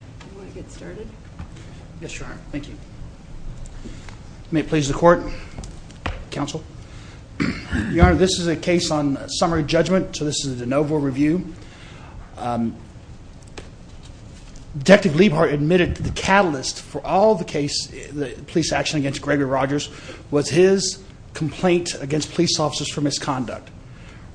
Do you want to get started? Yes, Your Honor. Thank you. May it please the court, counsel. Your Honor, this is a case on summary judgment, so this is a de novo review. Detective Liebhardt admitted the catalyst for all the case, the police action against Gregory Rodgers, was his complaint against police officers for misconduct.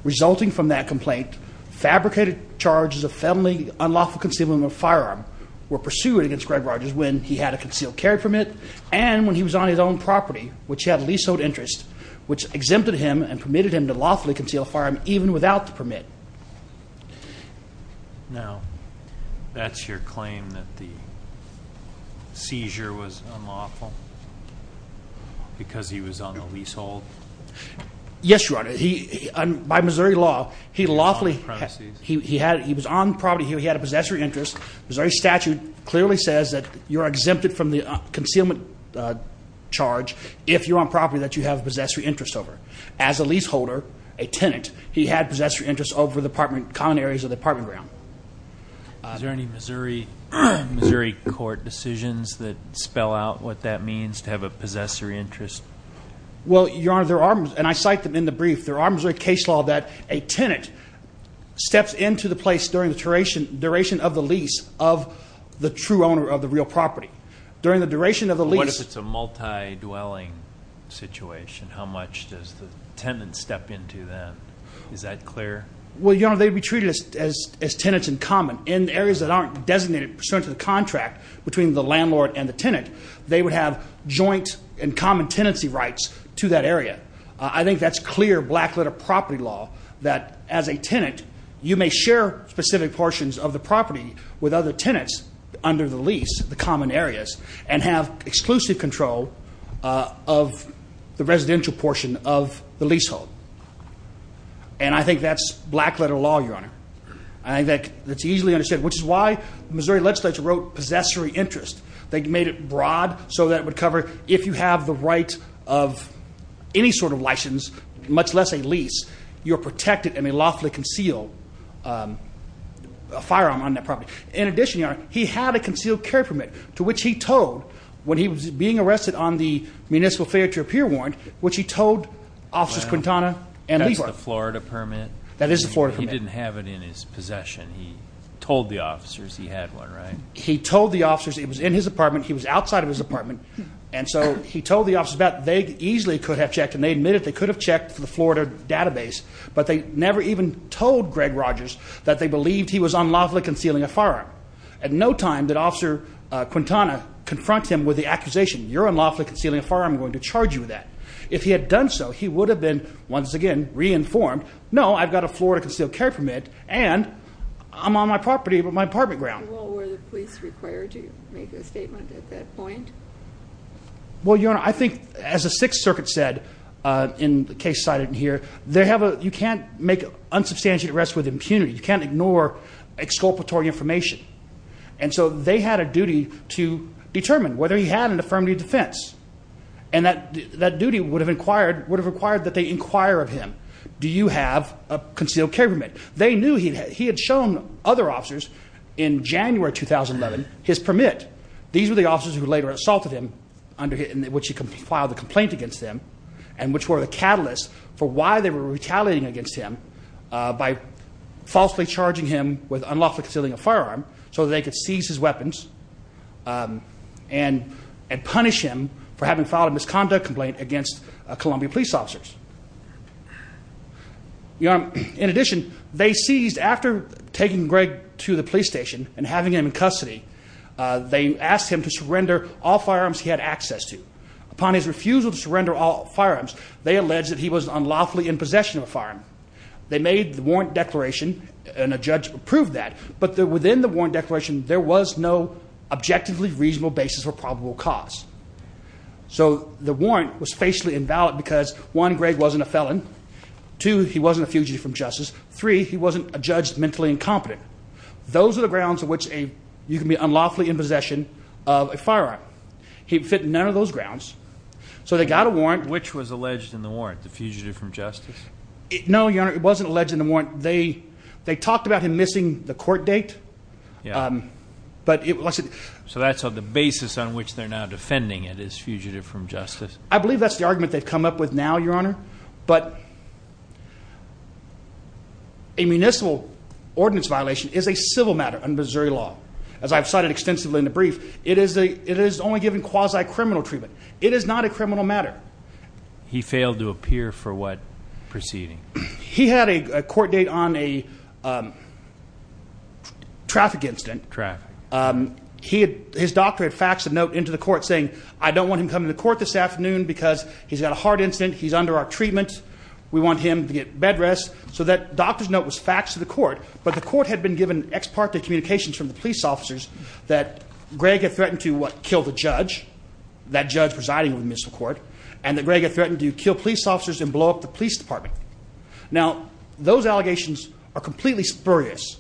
Resulting from that complaint, fabricated charges of felony unlawful concealment of firearm were pursued against Gregory Rodgers when he had a concealed carry permit and when he was on his own property, which had leasehold interest, which exempted him and permitted him to lawfully conceal a firearm even without the permit. Now, that's your claim that the seizure was unlawful because he was on the leasehold? Yes, Your Honor. By Missouri law, he lawfully, he was on possessory interest. Missouri statute clearly says that you're exempted from the concealment charge if you're on property that you have a possessory interest over. As a leaseholder, a tenant, he had possessory interest over the common areas of the apartment ground. Is there any Missouri court decisions that spell out what that means to have a possessory interest? Well, Your Honor, there are, and I cite them in the brief, there are Missouri case law that a lease of the true owner of the real property. During the duration of the lease... What if it's a multi-dwelling situation? How much does the tenant step into that? Is that clear? Well, Your Honor, they'd be treated as tenants in common. In areas that aren't designated pursuant to the contract between the landlord and the tenant, they would have joint and common tenancy rights to that area. I think that's clear black letter property law that as a tenant, you may share specific portions of the property with other tenants under the lease, the common areas, and have exclusive control of the residential portion of the leasehold. And I think that's black letter law, Your Honor. I think that's easily understood, which is why the Missouri legislature wrote possessory interest. They made it broad so that would cover if you have the right of any sort of license, much less a lease, you're protected and may lawfully conceal a firearm on that property. In addition, Your Honor, he had a concealed carry permit, to which he told when he was being arrested on the municipal failure to appear warrant, which he told officers Quintana and Leibler. That's the Florida permit? That is the Florida permit. He didn't have it in his possession. He told the officers he had one, right? He told the officers. It was in his apartment. He was outside of his apartment. And so he told the officers that they easily could have checked, and they admitted they could have checked for the Florida database, but they never even told Greg Rogers that they believed he was unlawfully concealing a firearm. At no time did Officer Quintana confront him with the accusation, you're unlawfully concealing a firearm, I'm going to charge you with that. If he had done so, he would have been, once again, re-informed, no, I've got a Florida concealed carry permit, and I'm on my property, my apartment ground. Well, were the police required to make a statement at that point? Well, Your Honor, I think as the Sixth Circuit said, in the case cited in here, you can't make unsubstantiated arrest with impunity. You can't ignore exculpatory information. And so they had a duty to determine whether he had an affirmative defense. And that duty would have required that they inquire of him, do you have a concealed carry permit? They knew he had shown other officers in January 2011 his permit. These were the officers who later assaulted him, which he filed a complaint against them, and which were the catalyst for why they were retaliating against him by falsely charging him with unlawfully concealing a firearm, so they could seize his weapons and punish him for having filed a misconduct complaint against Columbia police officers. Your Honor, in addition, they seized, after taking Greg to the police station and having him in custody, they asked him to surrender all firearms. They alleged that he was unlawfully in possession of a firearm. They made the warrant declaration, and a judge approved that, but within the warrant declaration, there was no objectively reasonable basis for probable cause. So the warrant was facially invalid because one, Greg wasn't a felon. Two, he wasn't a fugitive from justice. Three, he wasn't a judge mentally incompetent. Those are the grounds on which you can be unlawfully in possession of a firearm. He fit none of those grounds, so they got a warrant which was alleged in the warrant, the fugitive from justice? No, Your Honor, it wasn't alleged in the warrant. They talked about him missing the court date, but it wasn't. So that's on the basis on which they're now defending it as fugitive from justice. I believe that's the argument they've come up with now, Your Honor, but a municipal ordinance violation is a civil matter under Missouri law. As I've cited extensively in the brief, it is only given quasi-criminal treatment. It is not a criminal matter. He failed to appear for what proceeding? He had a court date on a traffic incident. Traffic. His doctor had faxed a note into the court saying, I don't want him coming to court this afternoon because he's got a heart incident, he's under our treatment, we want him to get bed rest. So that doctor's note was faxed to the court, but the court had been given ex parte communications from the police officers that Greg had threatened to, what, kill the judge, that judge presiding with the municipal court, and that Greg had threatened to kill police officers and blow up the police department. Now those allegations are completely spurious.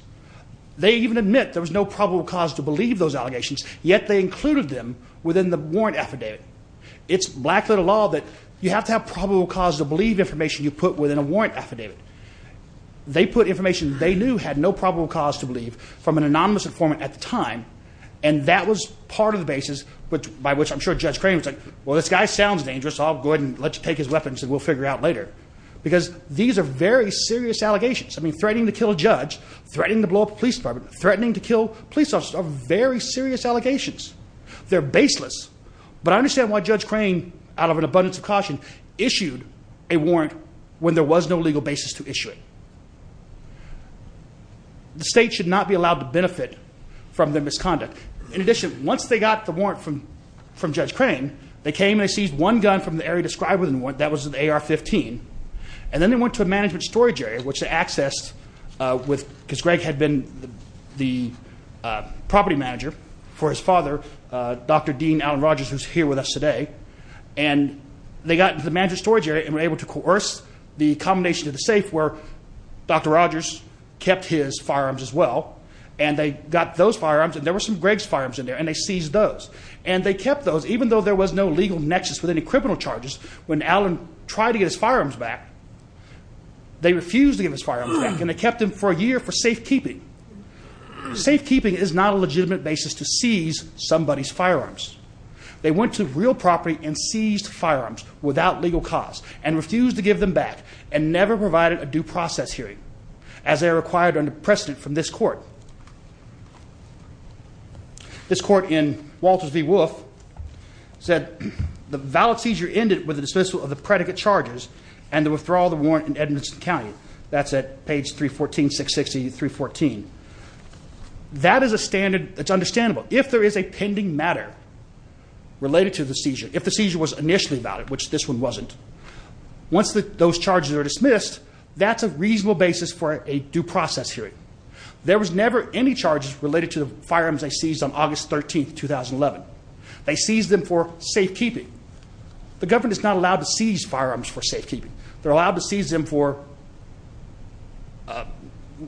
They even admit there was no probable cause to believe those allegations, yet they included them within the warrant affidavit. It's black-letter law that you have to have probable cause to believe information you put within a warrant affidavit. They put information they knew had no probable cause to believe from an earlier time, and that was part of the basis by which I'm sure Judge Crane was like, well this guy sounds dangerous, I'll go ahead and let you take his weapons and we'll figure out later. Because these are very serious allegations. I mean threatening to kill a judge, threatening to blow up a police department, threatening to kill police officers are very serious allegations. They're baseless. But I understand why Judge Crane, out of an abundance of caution, issued a warrant when there was no legal basis to issue it. The state should not be allowed to misconduct. In addition, once they got the warrant from Judge Crane, they came and they seized one gun from the area described within the warrant, that was an AR-15, and then they went to a management storage area, which they accessed with, because Greg had been the property manager for his father, Dr. Dean Alan Rogers, who's here with us today. And they got into the management storage area and were able to coerce the combination to the safe where Dr. Rogers kept his firearms and there were some Greg's firearms in there and they seized those. And they kept those even though there was no legal nexus with any criminal charges. When Alan tried to get his firearms back, they refused to give his firearms back and they kept them for a year for safekeeping. Safekeeping is not a legitimate basis to seize somebody's firearms. They went to real property and seized firearms without legal cause and refused to give them back and never provided a due process hearing, as they are required under precedent from this court. This court in Walters v. Wolfe said the valid seizure ended with the dismissal of the predicate charges and the withdrawal of the warrant in Edmonton County. That's at page 314, 660, 314. That is a standard, it's understandable. If there is a pending matter related to the seizure, if the seizure was initially valid, which this one wasn't, once those charges are dismissed, that's a safekeeping. There were no charges related to the firearms they seized on August 13th, 2011. They seized them for safekeeping. The government is not allowed to seize firearms for safekeeping. They're allowed to seize them for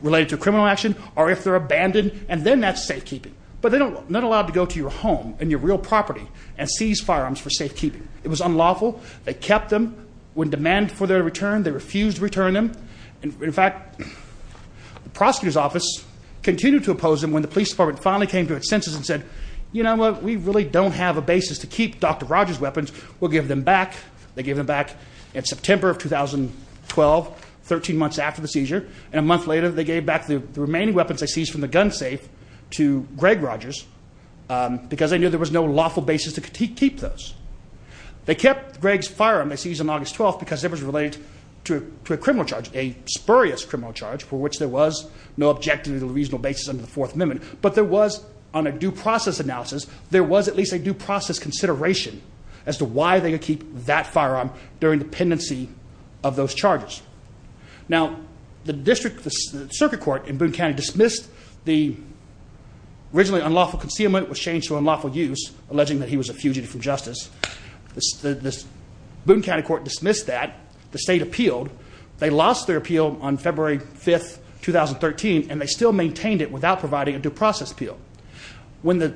related to criminal action or if they're abandoned and then that's safekeeping. But they're not allowed to go to your home and your real property and seize firearms for safekeeping. It was unlawful. They kept them. When demanded for their return, they refused to return them. In fact, the prosecutor's continued to oppose them when the police department finally came to its senses and said, you know what, we really don't have a basis to keep Dr. Rogers' weapons. We'll give them back. They gave them back in September of 2012, 13 months after the seizure. And a month later, they gave back the remaining weapons they seized from the gun safe to Greg Rogers because they knew there was no lawful basis to keep those. They kept Greg's firearm they seized on August 12th because it was related to a criminal charge, a spurious criminal charge for which there was no objective or reasonable basis under the Fourth Amendment. But there was, on a due process analysis, there was at least a due process consideration as to why they could keep that firearm during the pendency of those charges. Now, the district circuit court in Boone County dismissed the originally unlawful concealment was changed to unlawful use, alleging that he was a fugitive from justice. The Boone County Court dismissed that. The state appealed. They lost their appeal on February 5th, 2013, and they still maintained it without providing a due process appeal. When the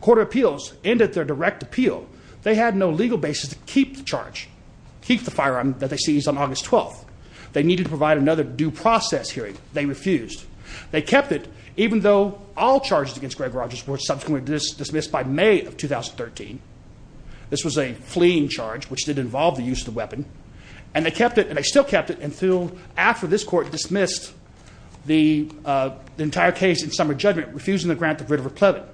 court of appeals ended their direct appeal, they had no legal basis to keep the charge, keep the firearm that they seized on August 12th. They needed to provide another due process hearing. They refused. They kept it even though all charges against Greg Rogers were subsequently dismissed by May of 2013. This was a fleeing charge, which did involve the use of the weapon, and they kept it, and they still kept it until after this court dismissed the entire case in summer judgment, refusing to grant the writ of replevant.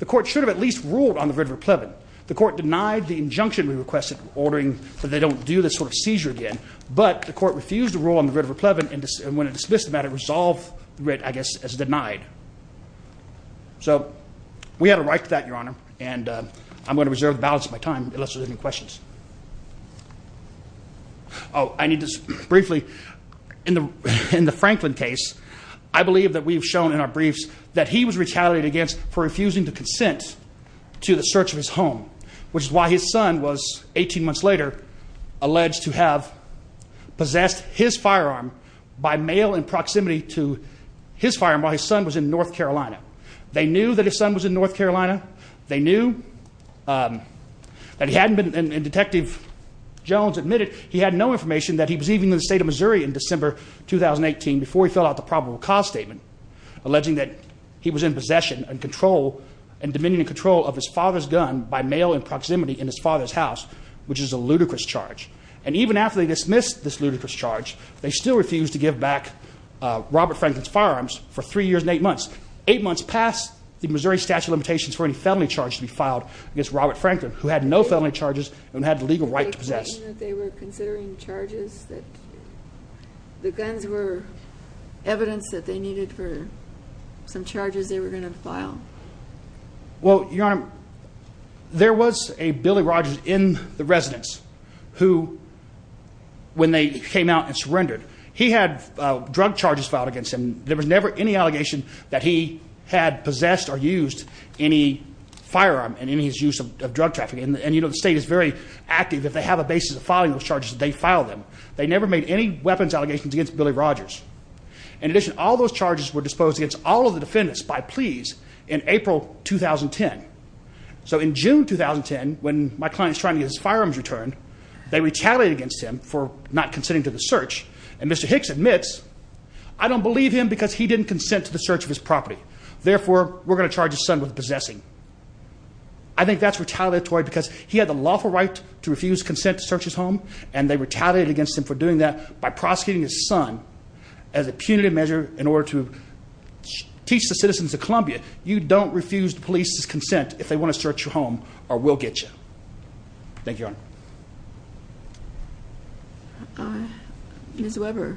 The court should have at least ruled on the writ of replevant. The court denied the injunction we requested, ordering that they don't do this sort of seizure again, but the court refused to rule on the writ of replevant, and when it dismissed the matter, resolved the writ, I guess, as denied. So we had a right to that, Your Honor, and I'm going to reserve the balance of my time unless there's any questions. Oh, I need this briefly. In the Franklin case, I believe that we've shown in our briefs that he was retaliated against for refusing to consent to the search of his home, which is why his son was, 18 months later, alleged to have possessed his firearm by mail in proximity to his firearm while his son was in North Carolina. They knew that his son was in North Carolina. They knew that he hadn't been, and Detective Jones admitted he had no information that he was even in the state of Missouri in December 2018 before he filled out the probable cause statement, alleging that he was in possession and control and dominion and control of his father's gun by mail in proximity in his father's house, which is a ludicrous charge, and even after they dismissed this ludicrous charge, they still refused to give back Robert Franklin's Eight months past the Missouri statute of limitations for any felony charge to be filed against Robert Franklin, who had no felony charges and had the legal right to possess. Were they claiming that they were considering charges, that the guns were evidence that they needed for some charges they were going to file? Well, Your Honor, there was a Billy Rogers in the residence who, when they came out and surrendered, he had drug charges filed against him. There was never any allegation that he had possessed or used any firearm in his use of drug trafficking. And you know, the state is very active if they have a basis of filing those charges, they file them. They never made any weapons allegations against Billy Rogers. In addition, all those charges were disposed against all of the defendants by pleas in April 2010. So in June 2010, when my client's trying to get his firearms returned, they retaliated against him for not considering to the search. And Mr. Hicks admits, I don't believe him because he didn't consent to the search of his property. Therefore, we're going to charge his son with possessing. I think that's retaliatory because he had the lawful right to refuse consent to search his home. And they retaliated against him for doing that by prosecuting his son as a punitive measure in order to teach the citizens of Columbia, you don't refuse the police's consent if they want to search your home or we'll get you. Thank you, Your Honor. Ms. Weber.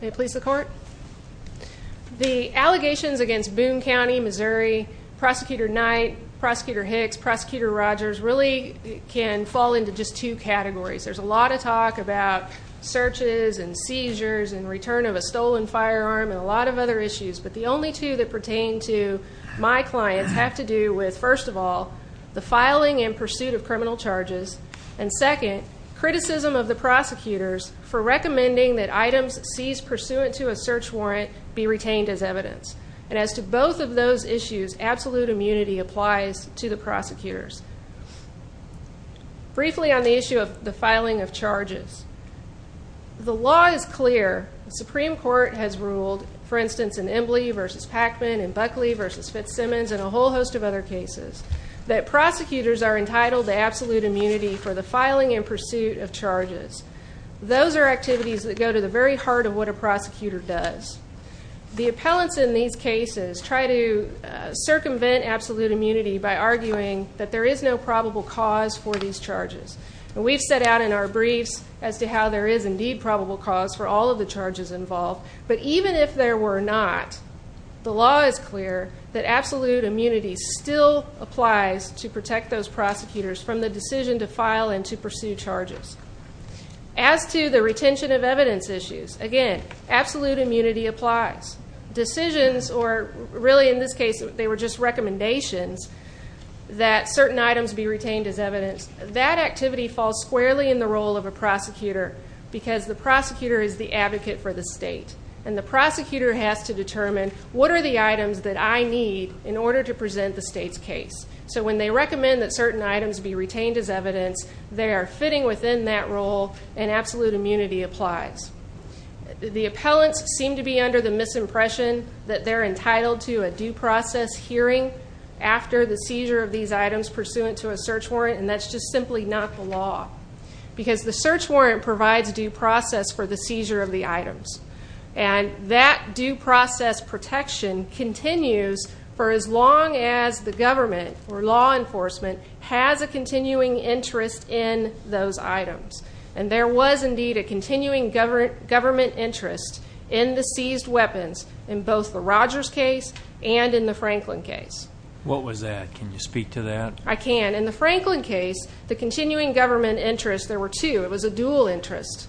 May it please the court? The allegations against Boone County, Missouri, Prosecutor Knight, Prosecutor Hicks, Prosecutor Rogers really can fall into just two categories. There's a lot of talk about searches and seizures and return of a stolen firearm and a lot of other issues. But the first of all, the filing in pursuit of criminal charges. And second, criticism of the prosecutors for recommending that items seized pursuant to a search warrant be retained as evidence. And as to both of those issues, absolute immunity applies to the prosecutors. Briefly on the issue of the filing of charges. The law is clear. The Supreme Court has ruled, for instance, in other cases, that prosecutors are entitled to absolute immunity for the filing in pursuit of charges. Those are activities that go to the very heart of what a prosecutor does. The appellants in these cases try to circumvent absolute immunity by arguing that there is no probable cause for these charges. And we've set out in our briefs as to how there is indeed probable cause for all of the charges involved. But even if there were not, the law is clear that absolute immunity still applies to protect those prosecutors from the decision to file and to pursue charges. As to the retention of evidence issues, again, absolute immunity applies. Decisions or really, in this case, they were just recommendations that certain items be retained as evidence. That activity falls squarely in the role of a prosecutor because the prosecutor is the advocate for the state. And the I need in order to present the state's case. So when they recommend that certain items be retained as evidence, they are fitting within that role and absolute immunity applies. The appellants seem to be under the misimpression that they're entitled to a due process hearing after the seizure of these items pursuant to a search warrant. And that's just simply not the law. Because the search warrant provides due process for the seizure of the for as long as the government or law enforcement has a continuing interest in those items. And there was indeed a continuing government interest in the seized weapons in both the Rogers case and in the Franklin case. What was that? Can you speak to that? I can. In the Franklin case, the continuing government interest, there were two. It was a dual interest.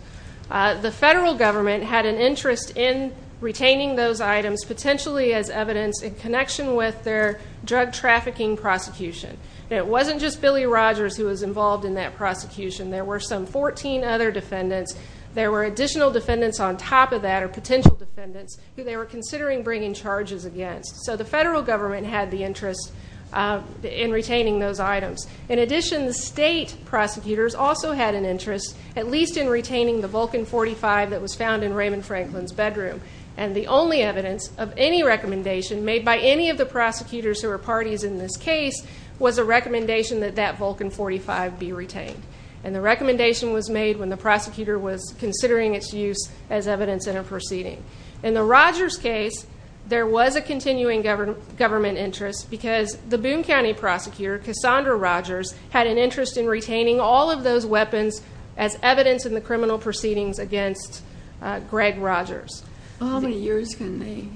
The federal government had an interest in retaining those items potentially as evidence in connection with their drug trafficking prosecution. And it wasn't just Billy Rogers who was involved in that prosecution. There were some 14 other defendants. There were additional defendants on top of that or potential defendants who they were considering bringing charges against. So the federal government had the interest in retaining those items. In addition, the state prosecutors also had an interest, at least in retaining the Vulcan 45 that was found in Raymond Franklin's bedroom. And the only evidence of any recommendation made by any of the prosecutors who were parties in this case was a recommendation that that Vulcan 45 be retained. And the recommendation was made when the prosecutor was considering its use as evidence in a proceeding. In the Rogers case, there was a continuing government interest because the Boone County prosecutor, Cassandra Rogers, had an interest in retaining all of those weapons as evidence in the criminal proceedings against Greg Rogers. How many years can they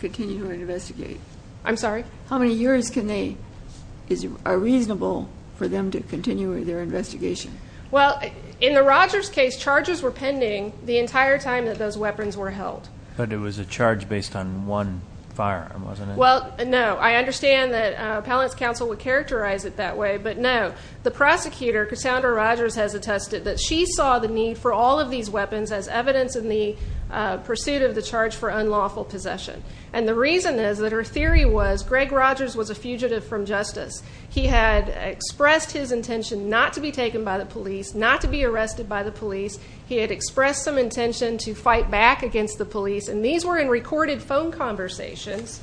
continue to investigate? I'm sorry? How many years can they, is it reasonable for them to continue with their investigation? Well, in the Rogers case, charges were pending the entire time that those weapons were held. But it was a charge based on one firearm, wasn't it? Well, no. I understand that Appellant's Counsel would characterize it that way, but no. The prosecutor, Cassandra Rogers, has all of these weapons as evidence in the pursuit of the charge for unlawful possession. And the reason is that her theory was Greg Rogers was a fugitive from justice. He had expressed his intention not to be taken by the police, not to be arrested by the police. He had expressed some intention to fight back against the police. And these were in recorded phone conversations.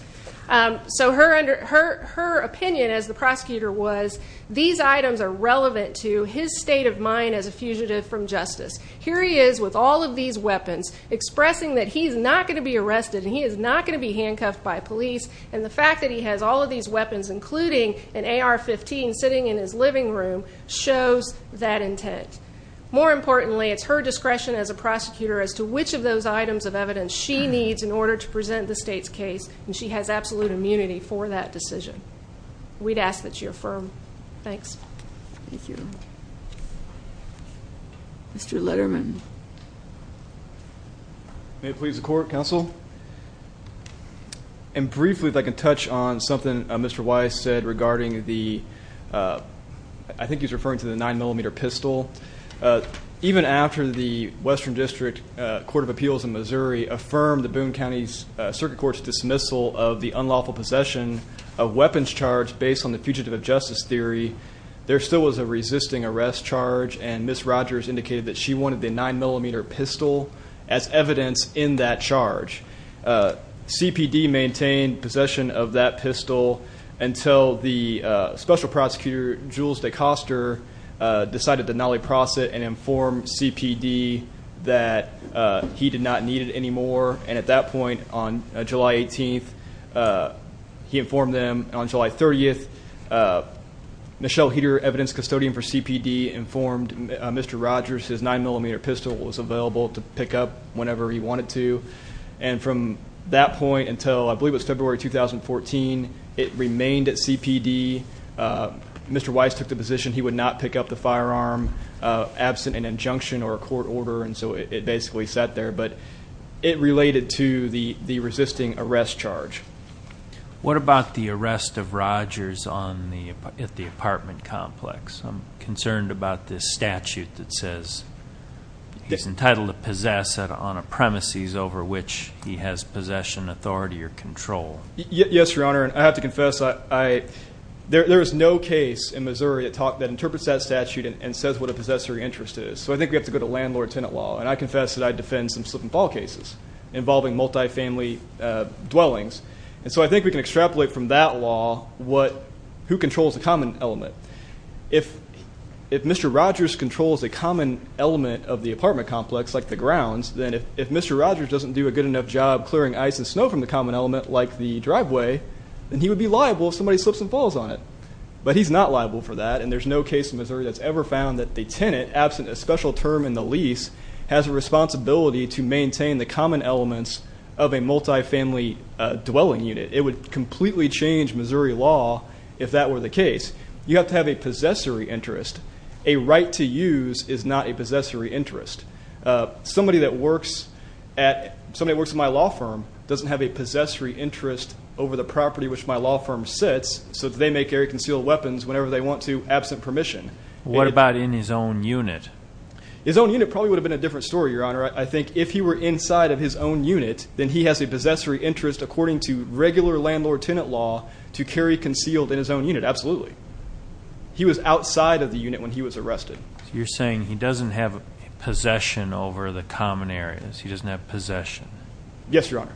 So her opinion as the prosecutor was, these items are relevant to his state of mind as a fugitive from justice. Here he is with all of these weapons expressing that he's not going to be arrested and he is not going to be handcuffed by police. And the fact that he has all of these weapons, including an AR-15 sitting in his living room, shows that intent. More importantly, it's her discretion as a prosecutor as to which of those items of evidence she needs in order to present the state's case. And she has absolute immunity for that Mr. Letterman. May it please the court, counsel. And briefly if I can touch on something Mr. Weiss said regarding the, I think he's referring to the nine millimeter pistol. Even after the Western District Court of Appeals in Missouri affirmed the Boone County Circuit Court's dismissal of the unlawful possession of weapons charged based on the fugitive of justice theory, there still was a resisting arrest charge. And Miss Rogers indicated that she wanted the nine millimeter pistol as evidence in that charge. Uh, CPD maintained possession of that pistol until the special prosecutor, Jules DeCoster, uh, decided to nolly process and inform CPD that, uh, he did not need it anymore. And at that point on July 18th, uh, he informed them on July 30th. Uh, Michelle heater, evidence custodian for CPD informed Mr Rogers his nine millimeter pistol was available to pick up whenever he wanted to. And from that point until I believe it's February 2014, it remained at CPD. Uh, Mr Weiss took the position he would not pick up the firearm absent an injunction or a court order. And so it basically sat there. But it related to the resisting arrest charge. What about the arrest of Rogers on the at the apartment complex? I'm concerned about this statute that says he's entitled to possess it on a premises over which he has possession authority or control. Yes, Your Honor. I have to confess. I there is no case in Missouri that talk that interprets that statute and says what a possessory interest is. So I think we have to go to landlord tenant law. And I confess that I defend some slip and fall cases involving multifamily dwellings. And so I think we can extrapolate from that law what who controls the common element. If if Mr Rogers controls a common element of the apartment complex like the grounds, then if if Mr Rogers doesn't do a good enough job clearing ice and snow from the common element like the driveway, then he would be liable if somebody slips and falls on it. But he's not liable for that. And there's no case in Missouri that's ever found that the tenant absent a special term in the lease has a maintain the common elements of a multifamily dwelling unit. It would completely change Missouri law. If that were the case, you have to have a possessory interest. A right to use is not a possessory interest. Somebody that works at somebody works in my law firm doesn't have a possessory interest over the property which my law firm sits. So they make air concealed weapons whenever they want to absent permission. What about in his own unit? His own unit probably would have been a different story. Your honor. I think if he were inside of his own unit, then he has a possessory interest according to regular landlord tenant law to carry concealed in his own unit. Absolutely. He was outside of the unit when he was arrested. You're saying he doesn't have possession over the common areas. He doesn't have possession. Yes, your honor.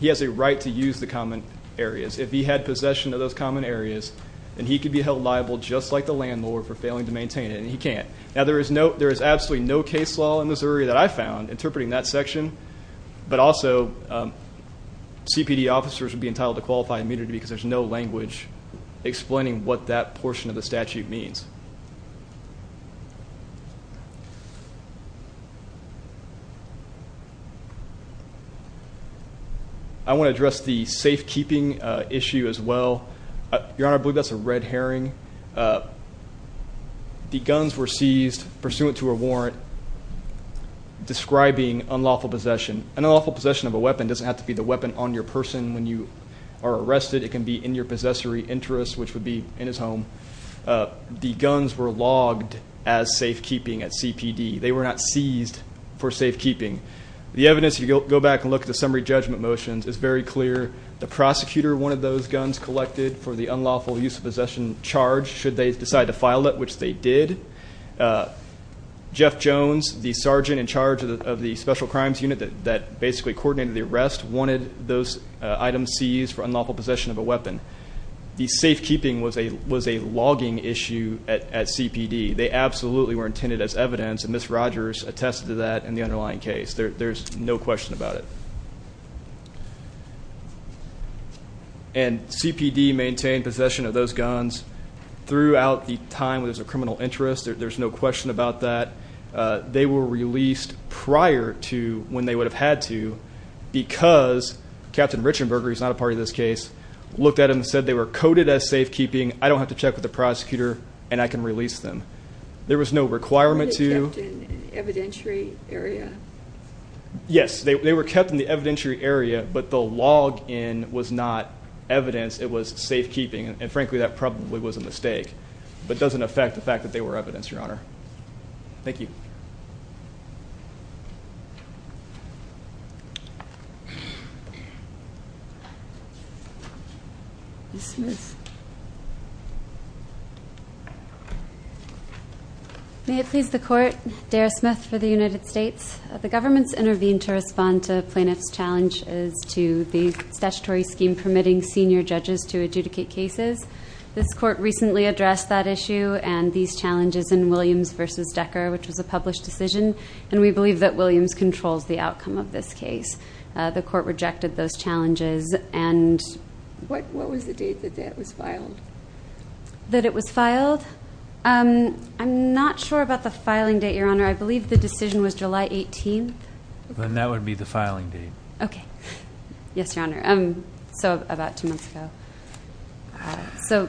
He has a right to use the common areas. If he had possession of those common areas and he could be held liable just like the landlord for failing to there is absolutely no case law in Missouri that I found interpreting that section. But also C. P. D. Officers would be entitled to qualify immediately because there's no language explaining what that portion of the statute means. I want to address the safekeeping issue as well. Your honor. I believe that's a red herring. Uh, the guns were seized pursuant to a warrant describing unlawful possession and unlawful possession of a weapon doesn't have to be the weapon on your person. When you are arrested, it can be in your possessory interest, which would be in his home. The guns were logged as safekeeping at C. P. D. They were not seized for safekeeping. The evidence you go back and look at the summary judgment motions is very clear. The prosecutor, one of those guns collected for the unlawful use of possession charge should they decide to file it, which they did. Uh, Jeff Jones, the sergeant in charge of the special crimes unit that basically coordinated the arrest, wanted those items seized for unlawful possession of a weapon. The safekeeping was a was a logging issue at C. P. D. They absolutely were intended as evidence and Miss Rogers attested to that in the underlying case. There's no question about it. Mhm. And C. P. D. Maintained possession of those guns throughout the time. There's a criminal interest. There's no question about that. Uh, they were released prior to when they would have had to because Captain Richenberger is not a part of this case. Looked at him, said they were coded as safekeeping. I don't have to check with the prosecutor and I can release them. There was no requirement to evidentiary area. Yes, they were kept in the evidentiary area, but the log in was not evidence. It was safekeeping. And frankly, that probably was a mistake, but doesn't affect the fact that they were evidence. Your honor. Thank you. Smith. May it please the court. Dara Smith for the United States. The government's intervened to respond to plaintiff's challenge is to the statutory scheme permitting senior judges to adjudicate cases. This court recently addressed that issue and these challenges in Williams versus Decker, which was a published decision, and we believe that Williams controls the outcome of this case. The court rejected those challenges and what? What was the date that that was announced? It's filed that it was filed. Um, I'm not sure about the filing date, your honor. I believe the decision was July 18. Then that would be the filing date. Okay. Yes, your honor. Um, so about two months ago. So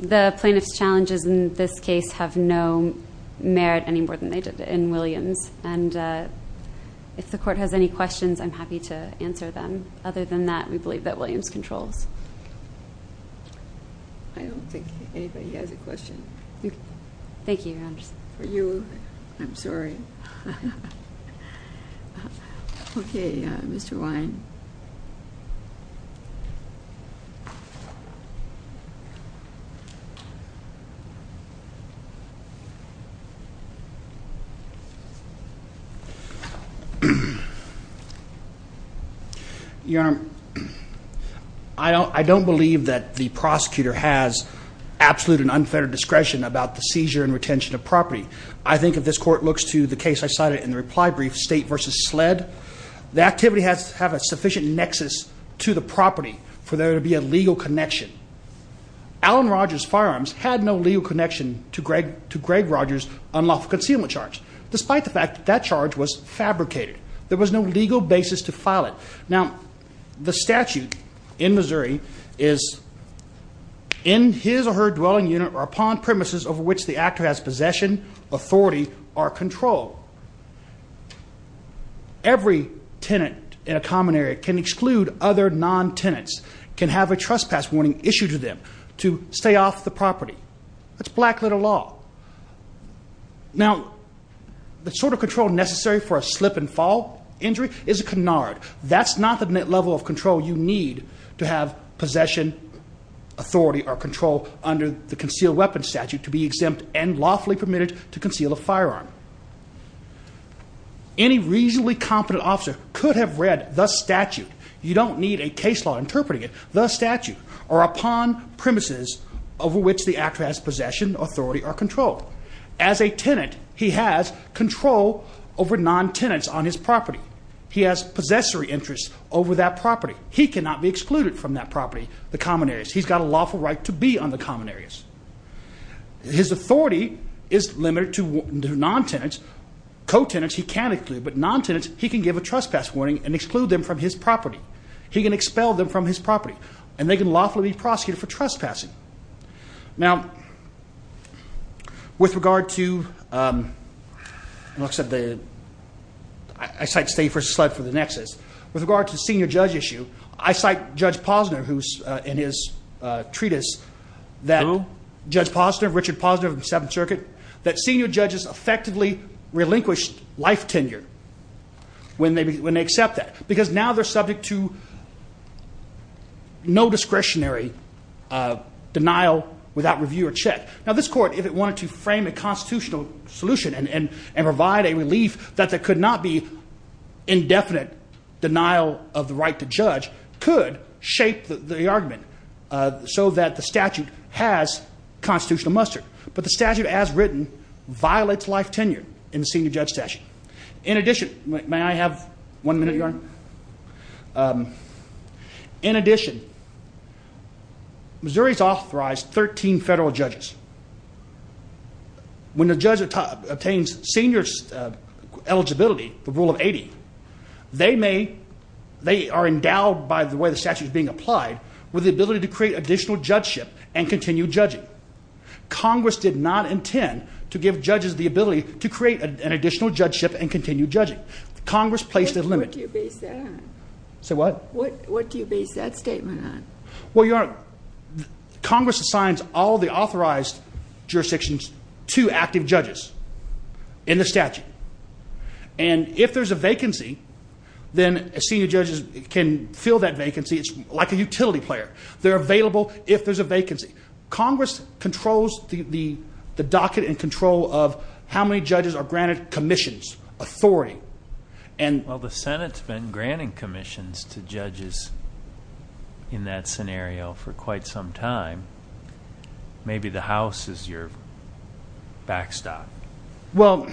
the plaintiff's challenges in this case have no merit any more than they did in Williams. And if the court has any questions, I'm happy to answer them. Other than that, we believe that Williams controls I don't think anybody has a question. Thank you for you. I'm sorry. Okay, Mr Wine. Your firearm. I don't believe that the prosecutor has absolute and unfettered discretion about the seizure and retention of property. I think if this court looks to the case, I cited in the reply brief state versus sled, the activity has to have a sufficient nexus to the property for there to be a legal connection. Alan Rogers firearms had no legal connection to Greg to Greg Rogers unlawful concealment charge. Despite the fact that charge was fabricated, there was no legal basis to file it. Now, the statute in Missouri is in his or her dwelling unit or upon premises of which the actor has possession, authority or control. Every tenant in a common area can exclude other non tenants can have a trespass warning issued to them to stay off the property. That's black little law. Now, the sort of control necessary for a slip and fall injury is a canard. That's not the net level of control you need to have possession authority or control under the concealed weapons statute to be exempt and lawfully permitted to conceal a firearm. Any reasonably competent officer could have read the statute. You don't need a case law interpreting it. The statute or upon premises over which the actress possession authority or control as a tenant. He has control over non tenants on his property. He has possessory interest over that property. He cannot be excluded from that property. The common areas. He's got a lawful right to be on the common areas. His authority is limited to non tenants, co tenants. He can't include, but non tenants, he can give a trespass warning and exclude them from his property. He can expel them from his property and they can lawfully be for trespassing. Now, with regard to, um, looks at the I cite state for slid for the nexus with regard to senior judge issue. I cite Judge Posner, who's in his treatise that judge positive Richard positive seven circuit that senior judges effectively relinquished life tenure when they when they accept that because now they're subject to no discretionary denial without review or check. Now, this court, if it wanted to frame a constitutional solution and provide a relief that there could not be indefinite denial of the right to judge, could shape the argument so that the statute has constitutional mustard. But the statute, as written, violates life tenure in the senior judge session. In addition, may I have one minute? You're um, in addition, Missouri's authorized 13 federal judges when the judge obtains seniors eligibility, the rule of 80. They may they are endowed by the way the statute is being applied with the ability to create additional judgeship and continue judging. Congress did not intend to give judges the ability to create an additional judgeship and continue judging. Congress placed a limit. Do you base that? So what? What? What do you base that statement on? Well, your Congress assigns all the authorized jurisdictions to active judges in the statute. And if there's a vacancy, then senior judges can fill that vacancy. It's like a utility player. They're available. If there's a vacancy, Congress controls the docket and control of how many judges are granted commissions authority. And while the Senate's been granting commissions to judges in that scenario for quite some time, maybe the house is your backstop. Well,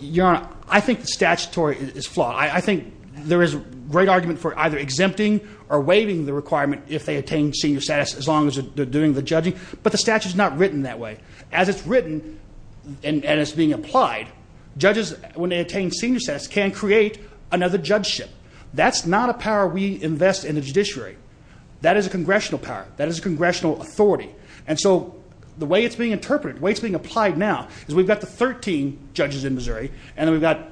you're on. I think the statutory is flawed. I think there is a great argument for either exempting or waiving the requirement if they attain senior status as long as they're doing the judging. But the statute is not written that way. As it's written and it's being applied, judges, when they attain senior status, can create another judgeship. That's not a power we invest in the judiciary. That is a congressional power. That is a congressional authority. And so the way it's being interpreted, the way it's being applied now is we've got the 13 judges in Missouri, and we've got,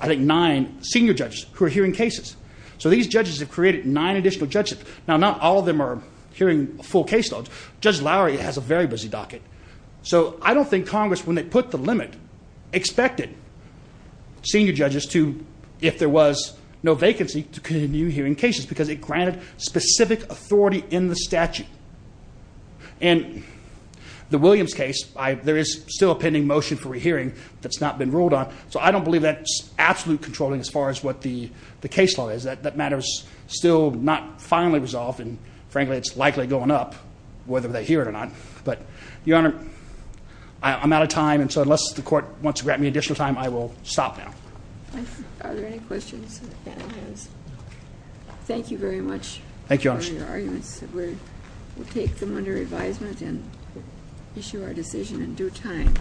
I think, nine senior judges who are hearing cases. So these judges have created nine additional judges. Now, not all of them are hearing full case laws. Judge Lowry has a very busy docket. So I don't think Congress, when they put the limit, expected senior judges to, if there was no vacancy, to continue hearing cases because it granted specific authority in the statute. And the Williams case, there is still a pending motion for a hearing that's not been ruled on. So I don't believe that's absolute controlling as far as what the case law is. That matter is still not finally resolved. And frankly, it's likely going up, whether they hear it or not. But, Your Honor, I'm out of time. And so unless the court wants to grant me additional time, I will stop now. Are there any questions? Thank you very much for your arguments. Thank you, Your Honor. We'll take them under advisement and issue our decision in due time.